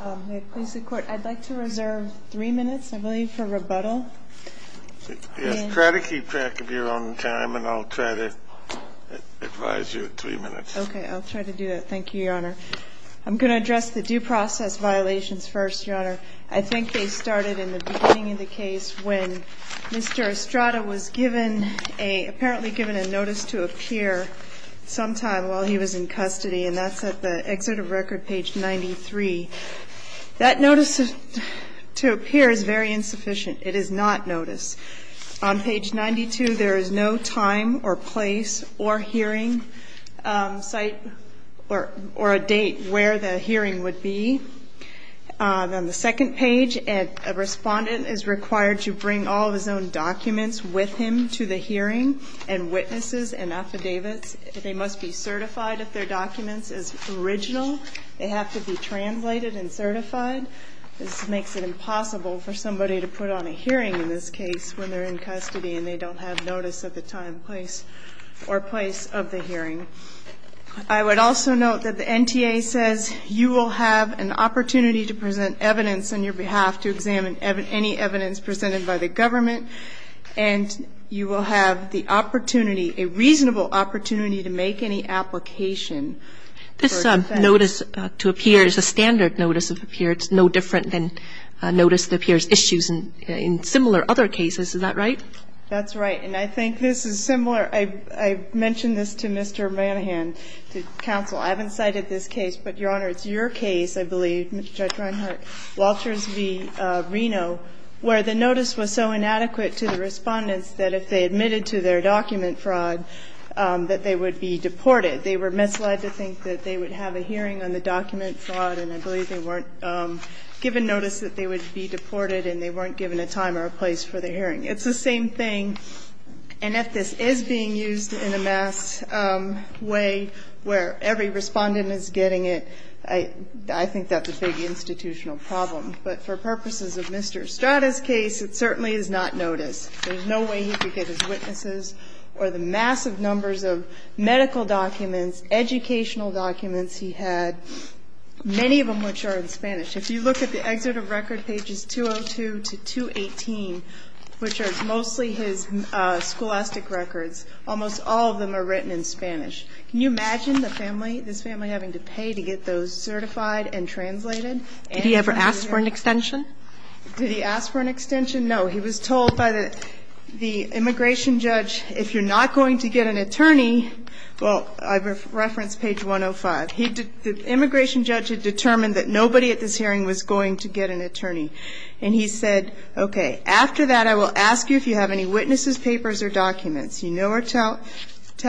I'd like to reserve three minutes, I believe, for rebuttal. Try to keep track of your own time, and I'll try to advise you in three minutes. Okay, I'll try to do that. Thank you, Your Honor. I'm going to address the due process violations first, Your Honor. I think they started in the beginning of the case when Mr. Estrada was apparently given a notice to appear sometime while he was in custody, and that's at the exit of record, page 93. That notice to appear is very insufficient. It is not notice. On page 92, there is no time or place or hearing site or a date where the hearing would be. On the second page, a respondent is required to bring all of his own documents with him to the hearing and witnesses and affidavits. They must be certified if their documents is original. They have to be translated and certified. This makes it impossible for somebody to put on a hearing in this case when they're in custody and they don't have notice of the time, place, or place of the hearing. I would also note that the NTA says you will have an opportunity to present evidence on your behalf to examine any evidence presented by the government, and you will have the opportunity, a reasonable opportunity to make any application for defense. This notice to appear is a standard notice of appearance, no different than notice that appears issues in similar other cases. Is that right? That's right. And I think this is similar. I mentioned this to Mr. Manahan, to counsel. I haven't cited this case, but, Your Honor, it's your case, I believe, Judge Reinhart, Walters v. Reno, where the notice was so inadequate to the respondents that if they admitted to their document fraud that they would be deported. They were misled to think that they would have a hearing on the document fraud, and I believe they weren't given notice that they would be deported and they weren't given a time or a place for the hearing. It's the same thing. And if this is being used in a mass way where every respondent is getting it, I think that's a big institutional problem. But for purposes of Mr. Estrada's case, it certainly is not notice. There's no way he could get his witnesses or the massive numbers of medical documents, educational documents he had, many of them which are in Spanish. If you look at the exit of record pages 202 to 218, which are mostly his scholastic records, almost all of them are written in Spanish. Can you imagine the family, this family having to pay to get those certified and translated? Did he ever ask for an extension? Did he ask for an extension? No. He was told by the immigration judge, if you're not going to get an attorney ñ well, I referenced page 105. The immigration judge had determined that nobody at this hearing was going to get an attorney. And he said, okay, after that I will ask you if you have any witnesses, papers, or documents. You know or tell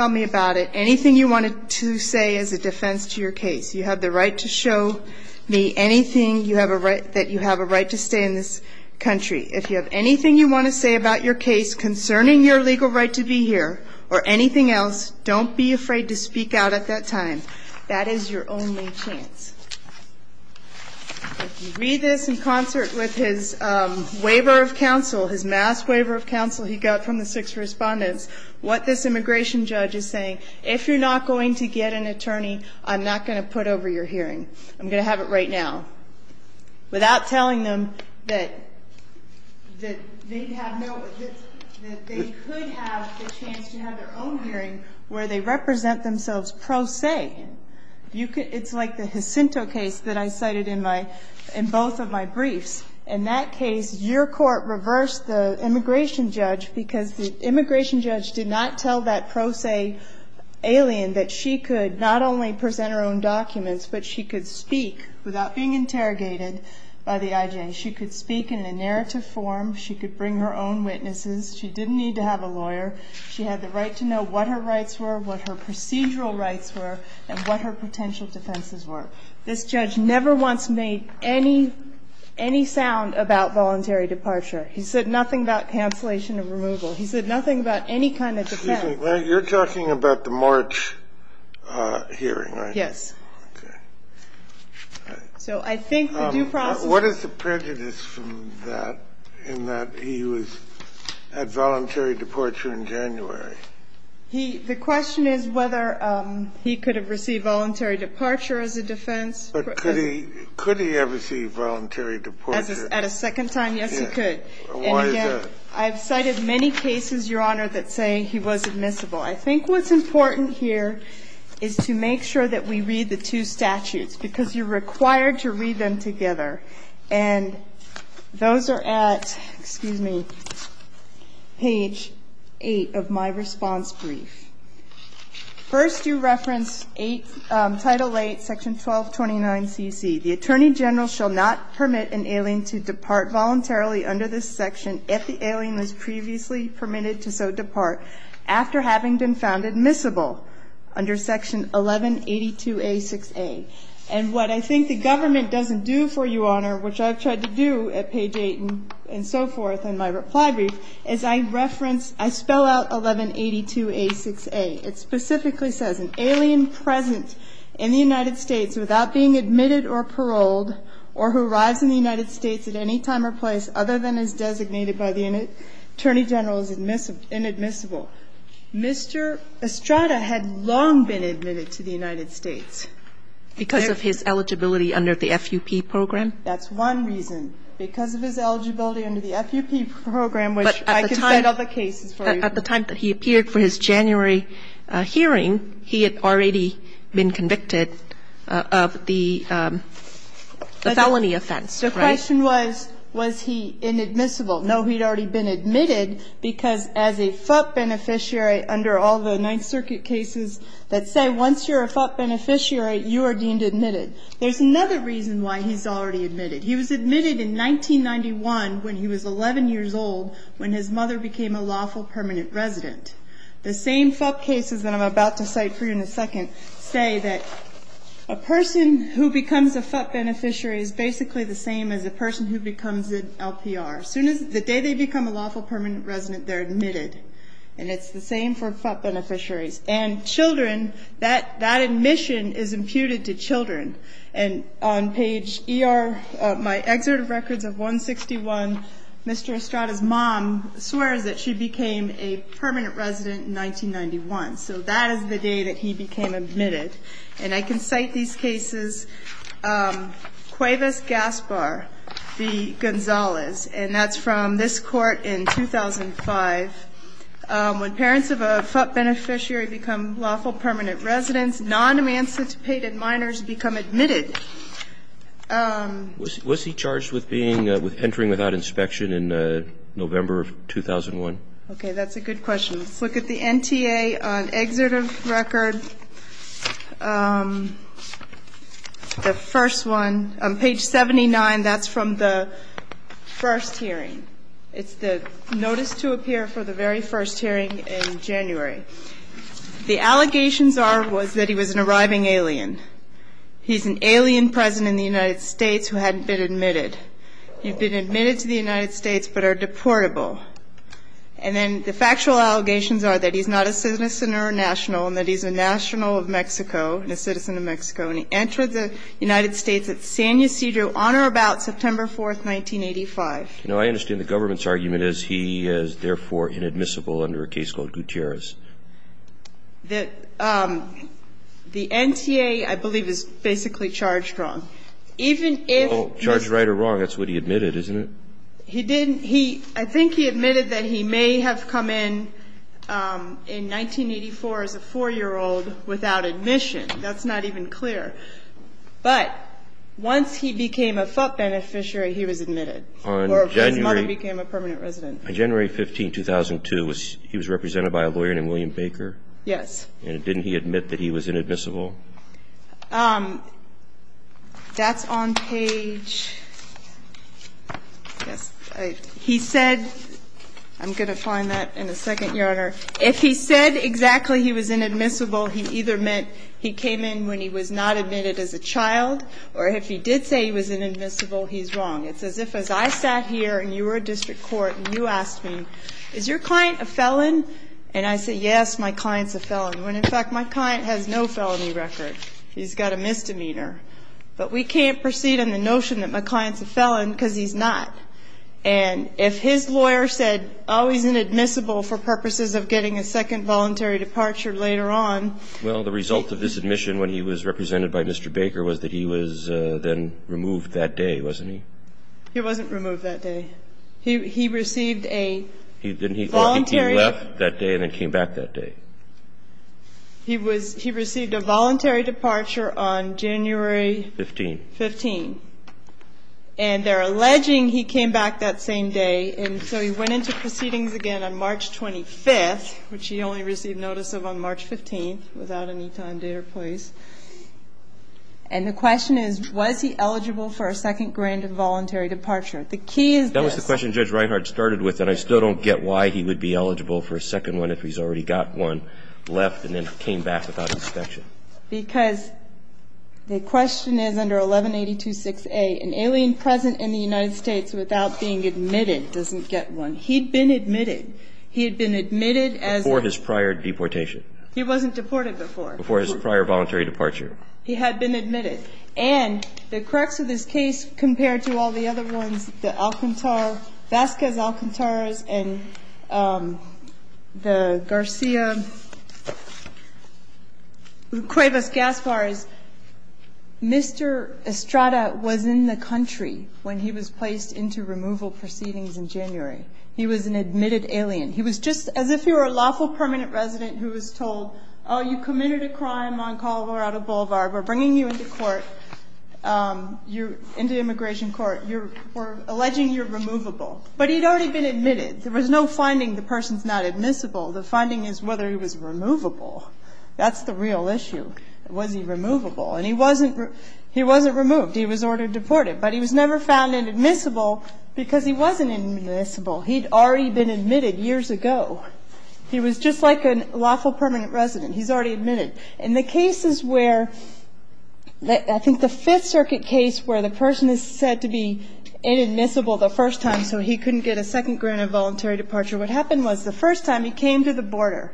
me about it. Anything you wanted to say as a defense to your case. You have the right to show me anything that you have a right to say in this country. If you have anything you want to say about your case concerning your legal right to be here or anything else, don't be afraid to speak out at that time. That is your only chance. If you read this in concert with his waiver of counsel, his mass waiver of counsel he got from the six respondents, what this immigration judge is saying, if you're not going to get an attorney, I'm not going to put over your hearing. I'm going to have it right now. Without telling them that they could have the chance to have their own hearing where they represent themselves pro se. It's like the Jacinto case that I cited in both of my briefs. In that case, your court reversed the immigration judge because the immigration judge did not tell that pro se alien that she could not only present her own documents, but she could speak without being interrogated by the IJ. She could speak in a narrative form. She could bring her own witnesses. She didn't need to have a lawyer. She had the right to know what her rights were, what her procedural rights were, and what her potential defenses were. So this judge never once made any sound about voluntary departure. He said nothing about cancellation of removal. He said nothing about any kind of defense. You're talking about the March hearing, right? Yes. Okay. So I think the due process is... The question is whether he could have received voluntary departure as a defense. But could he have received voluntary departure? At a second time, yes, he could. And again, I've cited many cases, Your Honor, that say he was admissible. I think what's important here is to make sure that we read the two statutes because you're required to read them together. And those are at, excuse me, page 8 of my response brief. First, you reference Title 8, Section 1229CC. The Attorney General shall not permit an alien to depart voluntarily under this section if the alien was previously permitted to so depart after having been found admissible under Section 1182A6A. And what I think the government doesn't do for you, Your Honor, which I've tried to do at page 8 and so forth in my reply brief, is I spell out 1182A6A. It specifically says, An alien present in the United States without being admitted or paroled or who arrives in the United States at any time or place other than as designated by the Attorney General is inadmissible. Mr. Estrada had long been admitted to the United States because of his eligibility under the FUP program. That's one reason. Because of his eligibility under the FUP program, which I can find other cases for you. But at the time that he appeared for his January hearing, he had already been convicted of the felony offense, right? The question was, was he inadmissible. No, he had already been admitted because as a FUP beneficiary under all the Ninth There's another reason why he's already admitted. He was admitted in 1991 when he was 11 years old when his mother became a lawful permanent resident. The same FUP cases that I'm about to cite for you in a second say that a person who becomes a FUP beneficiary is basically the same as a person who becomes an LPR. The day they become a lawful permanent resident, they're admitted. And it's the same for FUP beneficiaries. And children, that admission is imputed to children. And on page ER, my excerpt of records of 161, Mr. Estrada's mom swears that she became a permanent resident in 1991. So that is the day that he became admitted. And I can cite these cases. Cuevas Gaspar v. Gonzalez. And that's from this court in 2005. When parents of a FUP beneficiary become lawful permanent residents, non-emancipated minors become admitted. Was he charged with entering without inspection in November of 2001? Okay, that's a good question. Let's look at the NTA on excerpt of record. The first one, on page 79, that's from the first hearing. It's the notice to appear for the very first hearing in January. The allegations are that he was an arriving alien. He's an alien present in the United States who hadn't been admitted. He'd been admitted to the United States but are deportable. And then the factual allegations are that he's not a citizen or a national and that he's a national of Mexico and a citizen of Mexico. And he entered the United States at San Ysidro on or about September 4th, 1985. Now, I understand the government's argument is he is therefore inadmissible under a case called Gutierrez. The NTA, I believe, is basically charged wrong. Even if he's charged right or wrong, that's what he admitted, isn't it? He didn't. I think he admitted that he may have come in in 1984 as a 4-year-old without admission. That's not even clear. But once he became a FUP beneficiary, he was admitted. Or his mother became a permanent resident. On January 15, 2002, he was represented by a lawyer named William Baker? Yes. And didn't he admit that he was inadmissible? That's on page, I guess, he said, I'm going to find that in a second, Your Honor. If he said exactly he was inadmissible, he either meant he came in when he was not admitted as a child, or if he did say he was inadmissible, he's wrong. It's as if as I sat here and you were a district court and you asked me, is your client a felon? And I say, yes, my client's a felon, when, in fact, my client has no felony record. He's got a misdemeanor. But we can't proceed on the notion that my client's a felon because he's not. And if his lawyer said, oh, he's inadmissible for purposes of getting a second voluntary departure later on. Well, the result of this admission when he was represented by Mr. Baker was that he was then removed that day, wasn't he? He wasn't removed that day. He received a voluntary. He left that day and then came back that day. He was he received a voluntary departure on January. 15. 15. And they're alleging he came back that same day. And so he went into proceedings again on March 25th, which he only received notice of on March 15th, without any time, date or place. And the question is, was he eligible for a second grant of voluntary departure? The key is this. That was the question Judge Reinhardt started with. And I still don't get why he would be eligible for a second one if he's already got one left and then came back without inspection. Because the question is, under 1182.6a, an alien present in the United States without being admitted doesn't get one. He'd been admitted. He had been admitted as a ---- Before his prior deportation. He wasn't deported before. Before his prior voluntary departure. He had been admitted. And the crux of this case, compared to all the other ones, the Alcantara, Vasquez Alcantaras, and the Garcia-Cuevas-Gasparas, Mr. Estrada was in the country when he was placed into removal proceedings in January. He was an admitted alien. He was just as if you were a lawful permanent resident who was told, oh, you committed a crime on Colorado Boulevard. We're bringing you into court, into immigration court. We're alleging you're removable. But he'd already been admitted. There was no finding the person's not admissible. The finding is whether he was removable. That's the real issue. Was he removable? And he wasn't removed. He was ordered deported. But he was never found inadmissible because he wasn't admissible. He'd already been admitted years ago. He was just like a lawful permanent resident. He's already admitted. In the cases where, I think the Fifth Circuit case where the person is said to be inadmissible the first time, so he couldn't get a second grant of voluntary departure, what happened was the first time he came to the border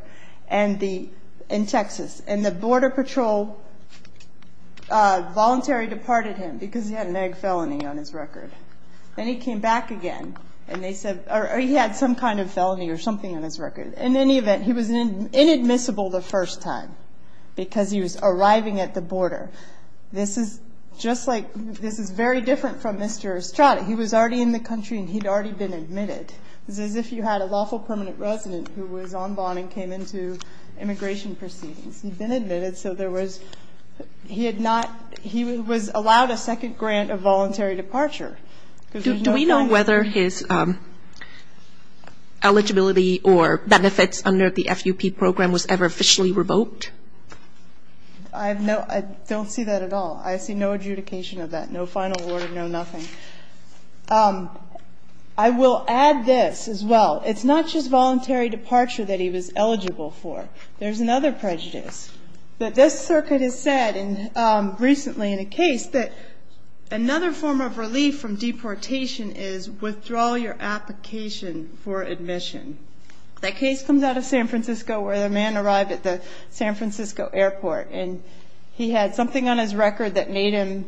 in Texas, and the border patrol voluntary departed him because he had an egg felony on his record. Then he came back again, and they said, or he had some kind of felony or something on his record. In any event, he was inadmissible the first time because he was arriving at the border. This is just like, this is very different from Mr. Estrada. He was already in the country, and he'd already been admitted. It was as if you had a lawful permanent resident who was on bond and came into immigration proceedings. He'd been admitted, so there was, he had not, he was allowed a second grant of voluntary departure. Do we know whether his eligibility or benefits under the FUP program was ever officially revoked? I have no, I don't see that at all. I see no adjudication of that, no final order, no nothing. I will add this as well. It's not just voluntary departure that he was eligible for. There's another prejudice. That this circuit has said recently in a case that another form of relief from deportation is withdraw your application for admission. That case comes out of San Francisco where the man arrived at the San Francisco airport, and he had something on his record that made him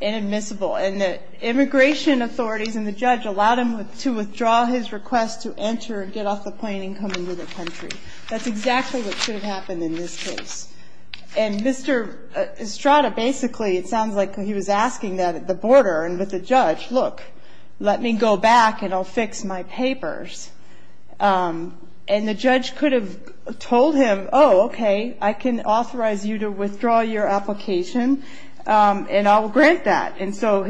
inadmissible. And the immigration authorities and the judge allowed him to withdraw his request to enter and get off the plane and come into the country. That's exactly what should have happened in this case. And Mr. Estrada, basically, it sounds like he was asking that at the border and with the judge, look, let me go back and I'll fix my papers. And the judge could have told him, oh, okay, I can authorize you to withdraw your application, and I'll grant that. And so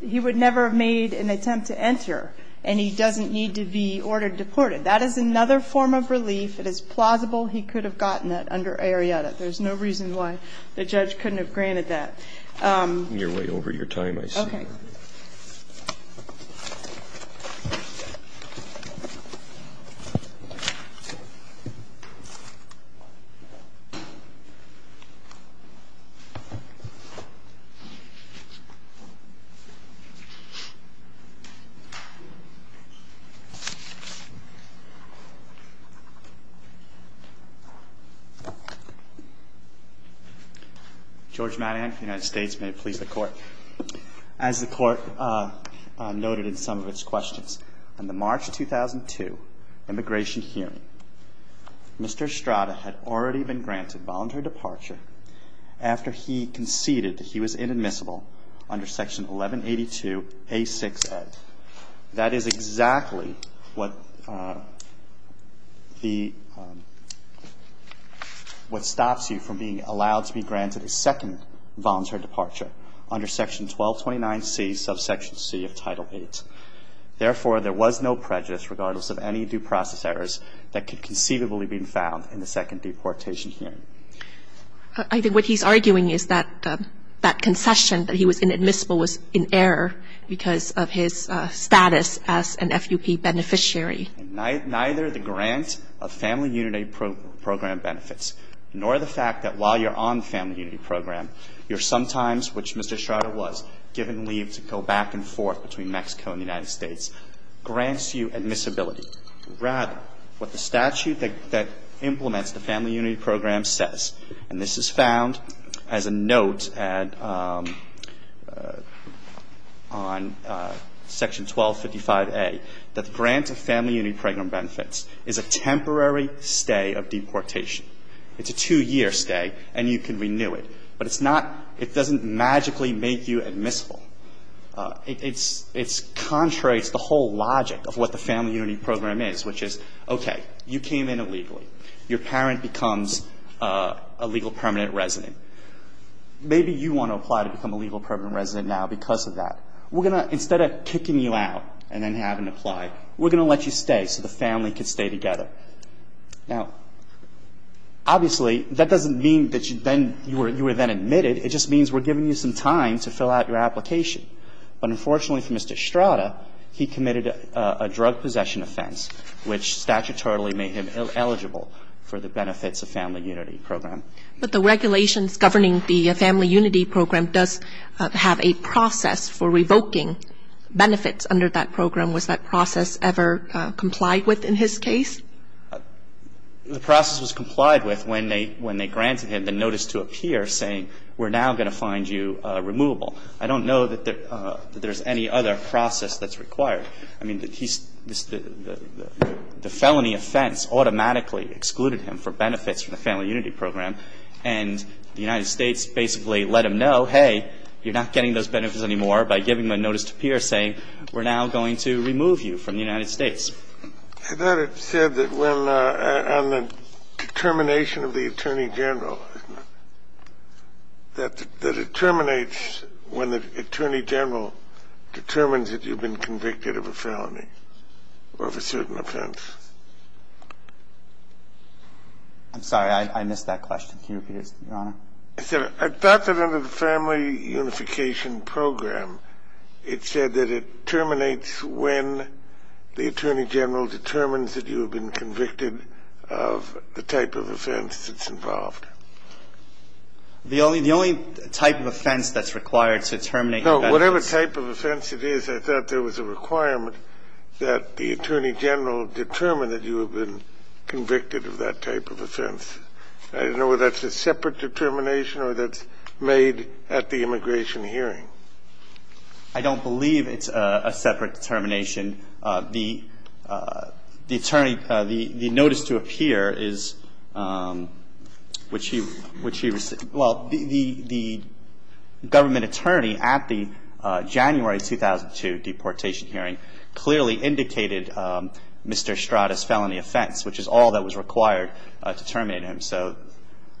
he would never have made an attempt to enter, and he doesn't need to be ordered deported. That is another form of relief. It is plausible he could have gotten it under AREA that there's no reason why the judge couldn't have granted that. You're way over your time, I see. Okay. Thank you. George Madian, United States. May it please the Court. As the Court noted in some of its questions, on the March 2002 immigration hearing, Mr. Estrada had already been granted voluntary departure after he conceded that he was inadmissible under Section 1182A6A. That is exactly what the – what stops you from being allowed to be granted a second voluntary departure under Section 1229C subsection C of Title VIII. Therefore, there was no prejudice, regardless of any due process errors, that could conceivably have been found in the second deportation hearing. I think what he's arguing is that that concession that he was inadmissible was in error because of his status as an FUP beneficiary. Neither the grant of Family Unity Program benefits nor the fact that while you're on the Family Unity Program, you're sometimes, which Mr. Estrada was, given leave to go back and forth between Mexico and the United States, grants you admissibility. Rather, what the statute that implements the Family Unity Program says, and this is found as a note at – on Section 1255A, that the grant of Family Unity Program benefits is a temporary stay of deportation. It's a two-year stay, and you can renew it. But it's not – it doesn't magically make you admissible. It's contrary. It's the whole logic of what the Family Unity Program is, which is, okay, you came in illegally. Your parent becomes a legal permanent resident. Maybe you want to apply to become a legal permanent resident now because of that. We're going to – instead of kicking you out and then having to apply, we're going to let you stay so the family can stay together. Now, obviously, that doesn't mean that you then – you were then admitted. It just means we're giving you some time to fill out your application. But unfortunately for Mr. Estrada, he committed a drug possession offense, which statutorily made him eligible for the benefits of Family Unity Program. But the regulations governing the Family Unity Program does have a process for revoking benefits under that program. Was that process ever complied with in his case? The process was complied with when they granted him the notice to appear saying, we're now going to find you removable. I don't know that there's any other process that's required. I mean, the felony offense automatically excluded him for benefits from the Family Unity Program. And the United States basically let him know, hey, you're not getting those benefits anymore by giving him a notice to appear saying, we're now going to remove you from the United States. I thought it said that when – on the determination of the Attorney General, that it terminates when the Attorney General determines that you've been convicted of a felony or of a certain offense. I'm sorry. I missed that question. Can you repeat it, Your Honor? I thought that under the Family Unification Program, it said that it terminates when the Attorney General determines that you have been convicted of the type of offense that's involved. The only type of offense that's required to terminate benefits – No, whatever type of offense it is, I thought there was a requirement that the Attorney General determine that you have been convicted of that type of offense. I don't know whether that's a separate determination or that's made at the immigration hearing. I don't believe it's a separate determination. The Attorney – the notice to appear is which he – well, the government attorney at the January 2002 deportation hearing clearly indicated Mr. Strada's felony offense, which is all that was required to terminate him. So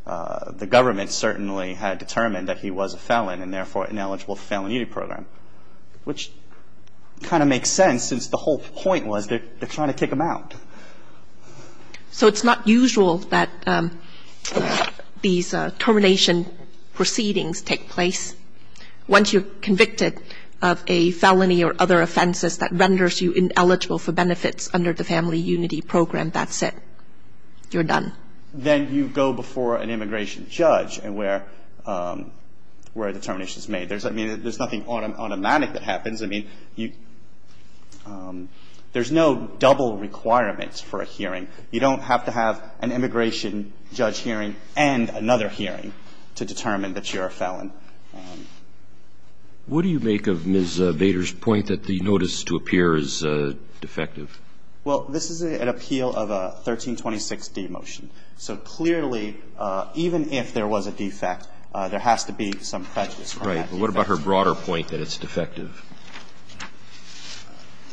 the government certainly had determined that he was a felon and, therefore, ineligible for the Family Unification Program, which kind of makes sense since the whole point was they're trying to kick him out. So it's not usual that these termination proceedings take place. Once you're convicted of a felony or other offenses that renders you ineligible for benefits under the Family Unity Program, that's it. You're done. Then you go before an immigration judge where the determination is made. I mean, there's nothing automatic that happens. I mean, there's no double requirement for a hearing. You don't have to have an immigration judge hearing and another hearing to determine that you're a felon. What do you make of Ms. Vader's point that the notice to appear is defective? Well, this is an appeal of a 1326d motion. So clearly, even if there was a defect, there has to be some prejudice. Right. What about her broader point that it's defective?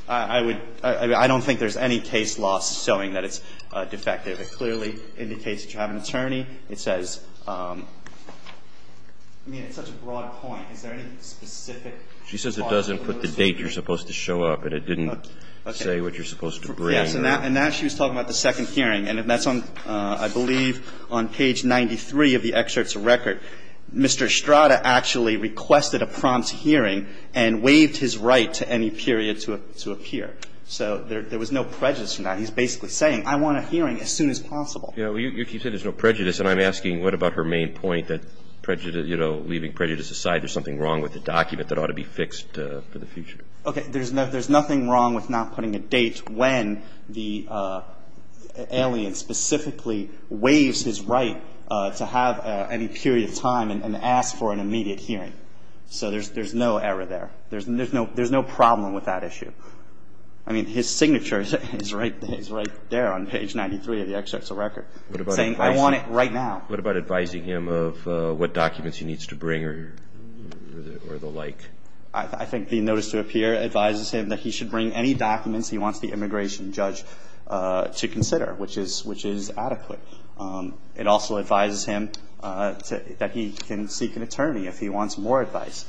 I would – I don't think there's any case law showing that it's defective. It clearly indicates that you have an attorney. It says – I mean, it's such a broad point. Is there any specific part of the notice? She says it doesn't put the date you're supposed to show up. And it didn't say what you're supposed to bring. Yes. And now she was talking about the second hearing. And that's on, I believe, on page 93 of the excerpt's record. Mr. Estrada actually requested a prompt hearing and waived his right to any period to appear. So there was no prejudice in that. He's basically saying, I want a hearing as soon as possible. Yeah. Well, you said there's no prejudice. And I'm asking, what about her main point that, you know, leaving prejudice aside, there's something wrong with the document that ought to be fixed for the future? Okay. There's nothing wrong with not putting a date when the alien specifically waives his right to have any period of time and ask for an immediate hearing. So there's no error there. There's no problem with that issue. I mean, his signature is right there on page 93 of the excerpt's record, saying, I want it right now. What about advising him of what documents he needs to bring or the like? I think the notice to appear advises him that he should bring any documents he wants the immigration judge to consider, which is adequate. It also advises him that he can seek an attorney if he wants more advice.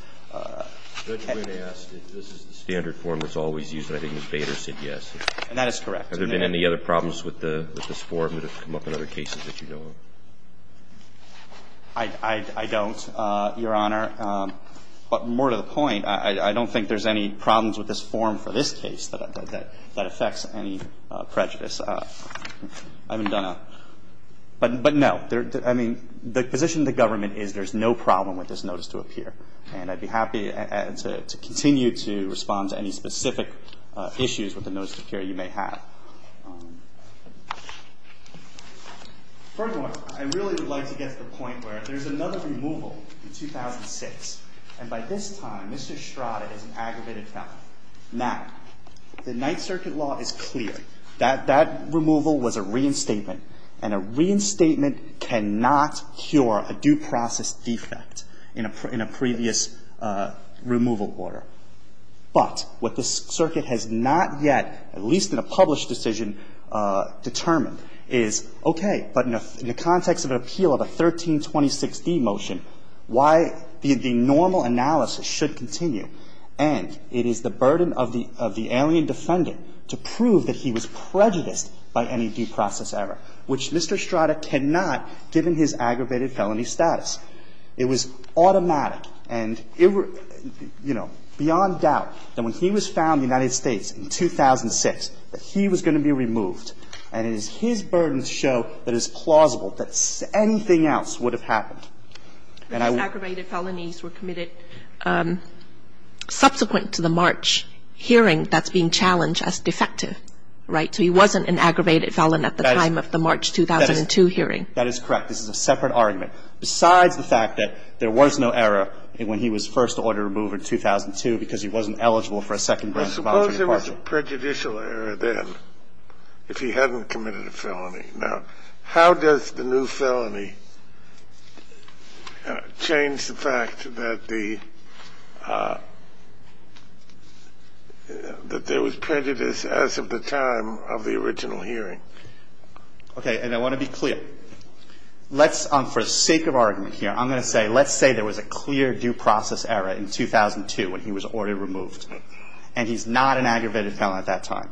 Judge Wynn asked if this is the standard form that's always used. And I think Ms. Bader said yes. And that is correct. Have there been any other problems with this form that have come up in other cases that you know of? I don't, Your Honor. But more to the point, I don't think there's any problems with this form for this case that affects any prejudice. But no. I mean, the position of the government is there's no problem with this notice to appear. And I'd be happy to continue to respond to any specific issues with the notice to appear you may have. First of all, I really would like to get to the point where there's another removal in 2006. And by this time, Mr. Strada is an aggravated felon. Now, the Ninth Circuit law is clear that that removal was a reinstatement, and a reinstatement cannot cure a due process defect in a previous removal order. But what this circuit has not yet, at least in a published decision, determined is, okay, but in the context of an appeal of a 1326d motion, why the normal analysis should continue. And it is the burden of the alien defendant to prove that he was prejudiced by any due process error, which Mr. Strada cannot, given his aggravated felony status. It was automatic and, you know, beyond doubt that when he was found in the United States in 2006 that he was going to be removed. And it is his burden to show that it's plausible that anything else would have happened. And I would These aggravated felonies were committed subsequent to the March hearing that's being challenged as defective. Right? So he wasn't an aggravated felon at the time of the March 2002 hearing. That is correct. This is a separate argument. Besides the fact that there was no error when he was first ordered removed in 2002 because he wasn't eligible for a second grant of voluntary departure. Suppose there was a prejudicial error then, if he hadn't committed a felony. Now, how does the new felony change the fact that the, that there was prejudice as of the time of the original hearing? Okay. And I want to be clear. Let's, for the sake of argument here, I'm going to say, let's say there was a clear due process error in 2002 when he was ordered removed. And he's not an aggravated felon at that time.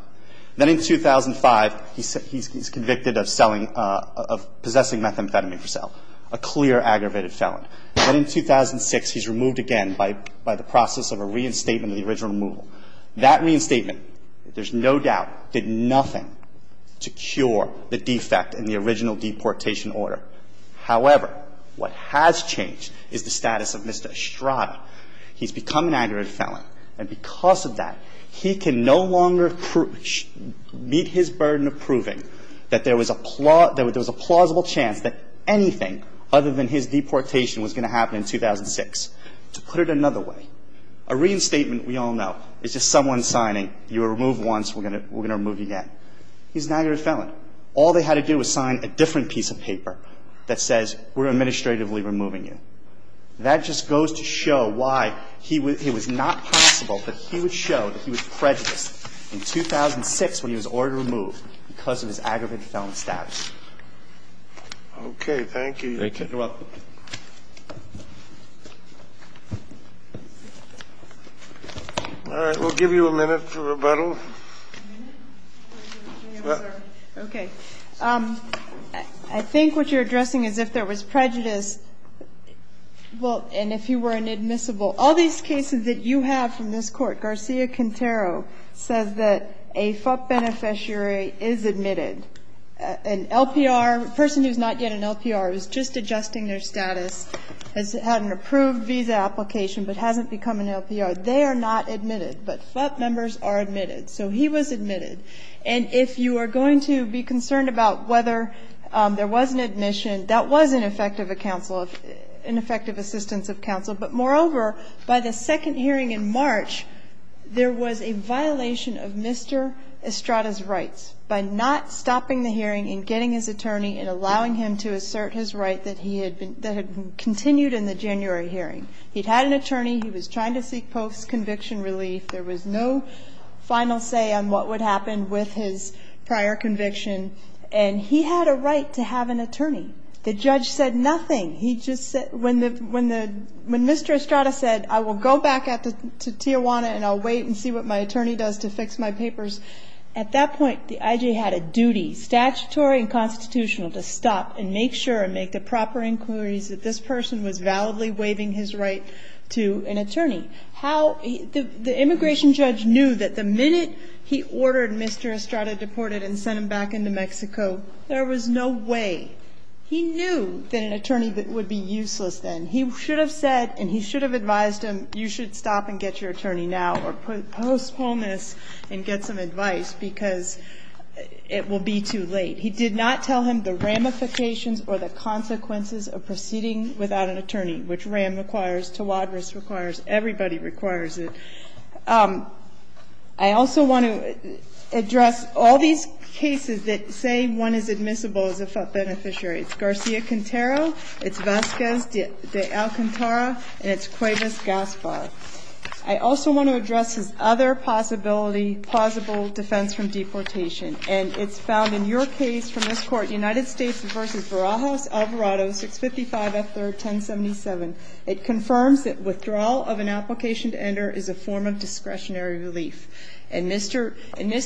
Then in 2005, he's convicted of selling, of possessing methamphetamine for sale, a clear aggravated felon. Then in 2006, he's removed again by the process of a reinstatement of the original removal. That reinstatement, there's no doubt, did nothing to cure the defect in the original deportation order. However, what has changed is the status of Mr. Estrada. He's become an aggravated felon. And because of that, he can no longer meet his burden of proving that there was a plausible chance that anything other than his deportation was going to happen in 2006. To put it another way, a reinstatement, we all know, is just someone signing, you were removed once, we're going to remove you again. He's an aggravated felon. All they had to do was sign a different piece of paper that says, we're administratively removing you. That just goes to show why he was not possible, but he would show that he was prejudiced in 2006 when he was ordered to remove because of his aggravated felon status. Okay. Thank you. You're welcome. All right. We'll give you a minute for rebuttal. Okay. I think what you're addressing is if there was prejudice, well, and if you were inadmissible. All these cases that you have from this Court, Garcia-Quintero says that a FUP beneficiary is admitted. An LPR, a person who's not yet an LPR, who's just adjusting their status, has had an approved visa application but hasn't become an LPR, they are not admitted. But FUP members are admitted. So he was admitted. And if you are going to be concerned about whether there was an admission, that was ineffective assistance of counsel. But moreover, by the second hearing in March, there was a violation of Mr. Estrada's rights by not stopping the hearing and getting his attorney and allowing him to assert his right that had continued in the January hearing. He'd had an attorney. He was trying to seek post-conviction relief. There was no final say on what would happen with his prior conviction. And he had a right to have an attorney. The judge said nothing. He just said, when Mr. Estrada said, I will go back to Tijuana and I'll wait and see what my attorney does to fix my papers, at that point the IJ had a duty, statutory and constitutional, to stop and make sure and make the proper inquiries that this person was validly waiving his right to an attorney. The immigration judge knew that the minute he ordered Mr. Estrada deported and sent him back into Mexico, there was no way. He knew that an attorney would be useless then. He should have said and he should have advised him, you should stop and get your attorney now or postpone this and get some advice because it will be too late. He did not tell him the ramifications or the consequences of proceeding without an attorney, which ram requires, tawadris requires, everybody requires it. I also want to address all these cases that say one is admissible as a beneficiary. It's Garcia-Quintero, it's Vasquez de Alcantara, and it's Cuevas Gaspar. I also want to address his other possibility, plausible defense from deportation. And it's found in your case from this Court, United States v. Barajas Alvarado, 655 F. 3rd, 1077. It confirms that withdrawal of an application to enter is a form of discretionary relief. In this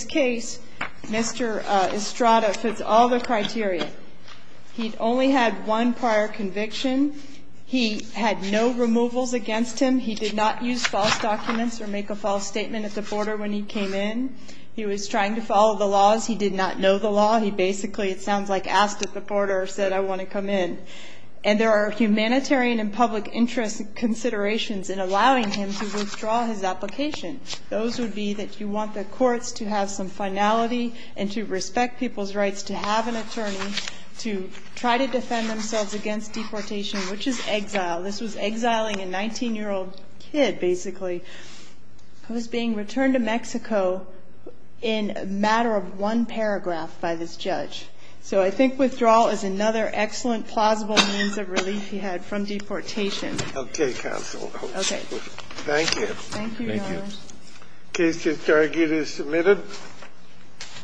case, Mr. Estrada fits all the criteria. He only had one prior conviction. He had no removals against him. He did not use false documents or make a false statement at the border when he came in. He was trying to follow the laws. He did not know the law. He basically, it sounds like, asked at the border or said, I want to come in. And there are humanitarian and public interest considerations in allowing him to withdraw his application. Those would be that you want the courts to have some finality and to respect people's rights to have an attorney to try to defend themselves against deportation, which is exile. This was exiling a 19-year-old kid, basically, who was being returned to Mexico in a matter of one paragraph by this judge. So I think withdrawal is another excellent, plausible means of relief he had from deportation. Okay, counsel. Okay. Thank you. Thank you, Your Honor. Thank you. The case to target is submitted.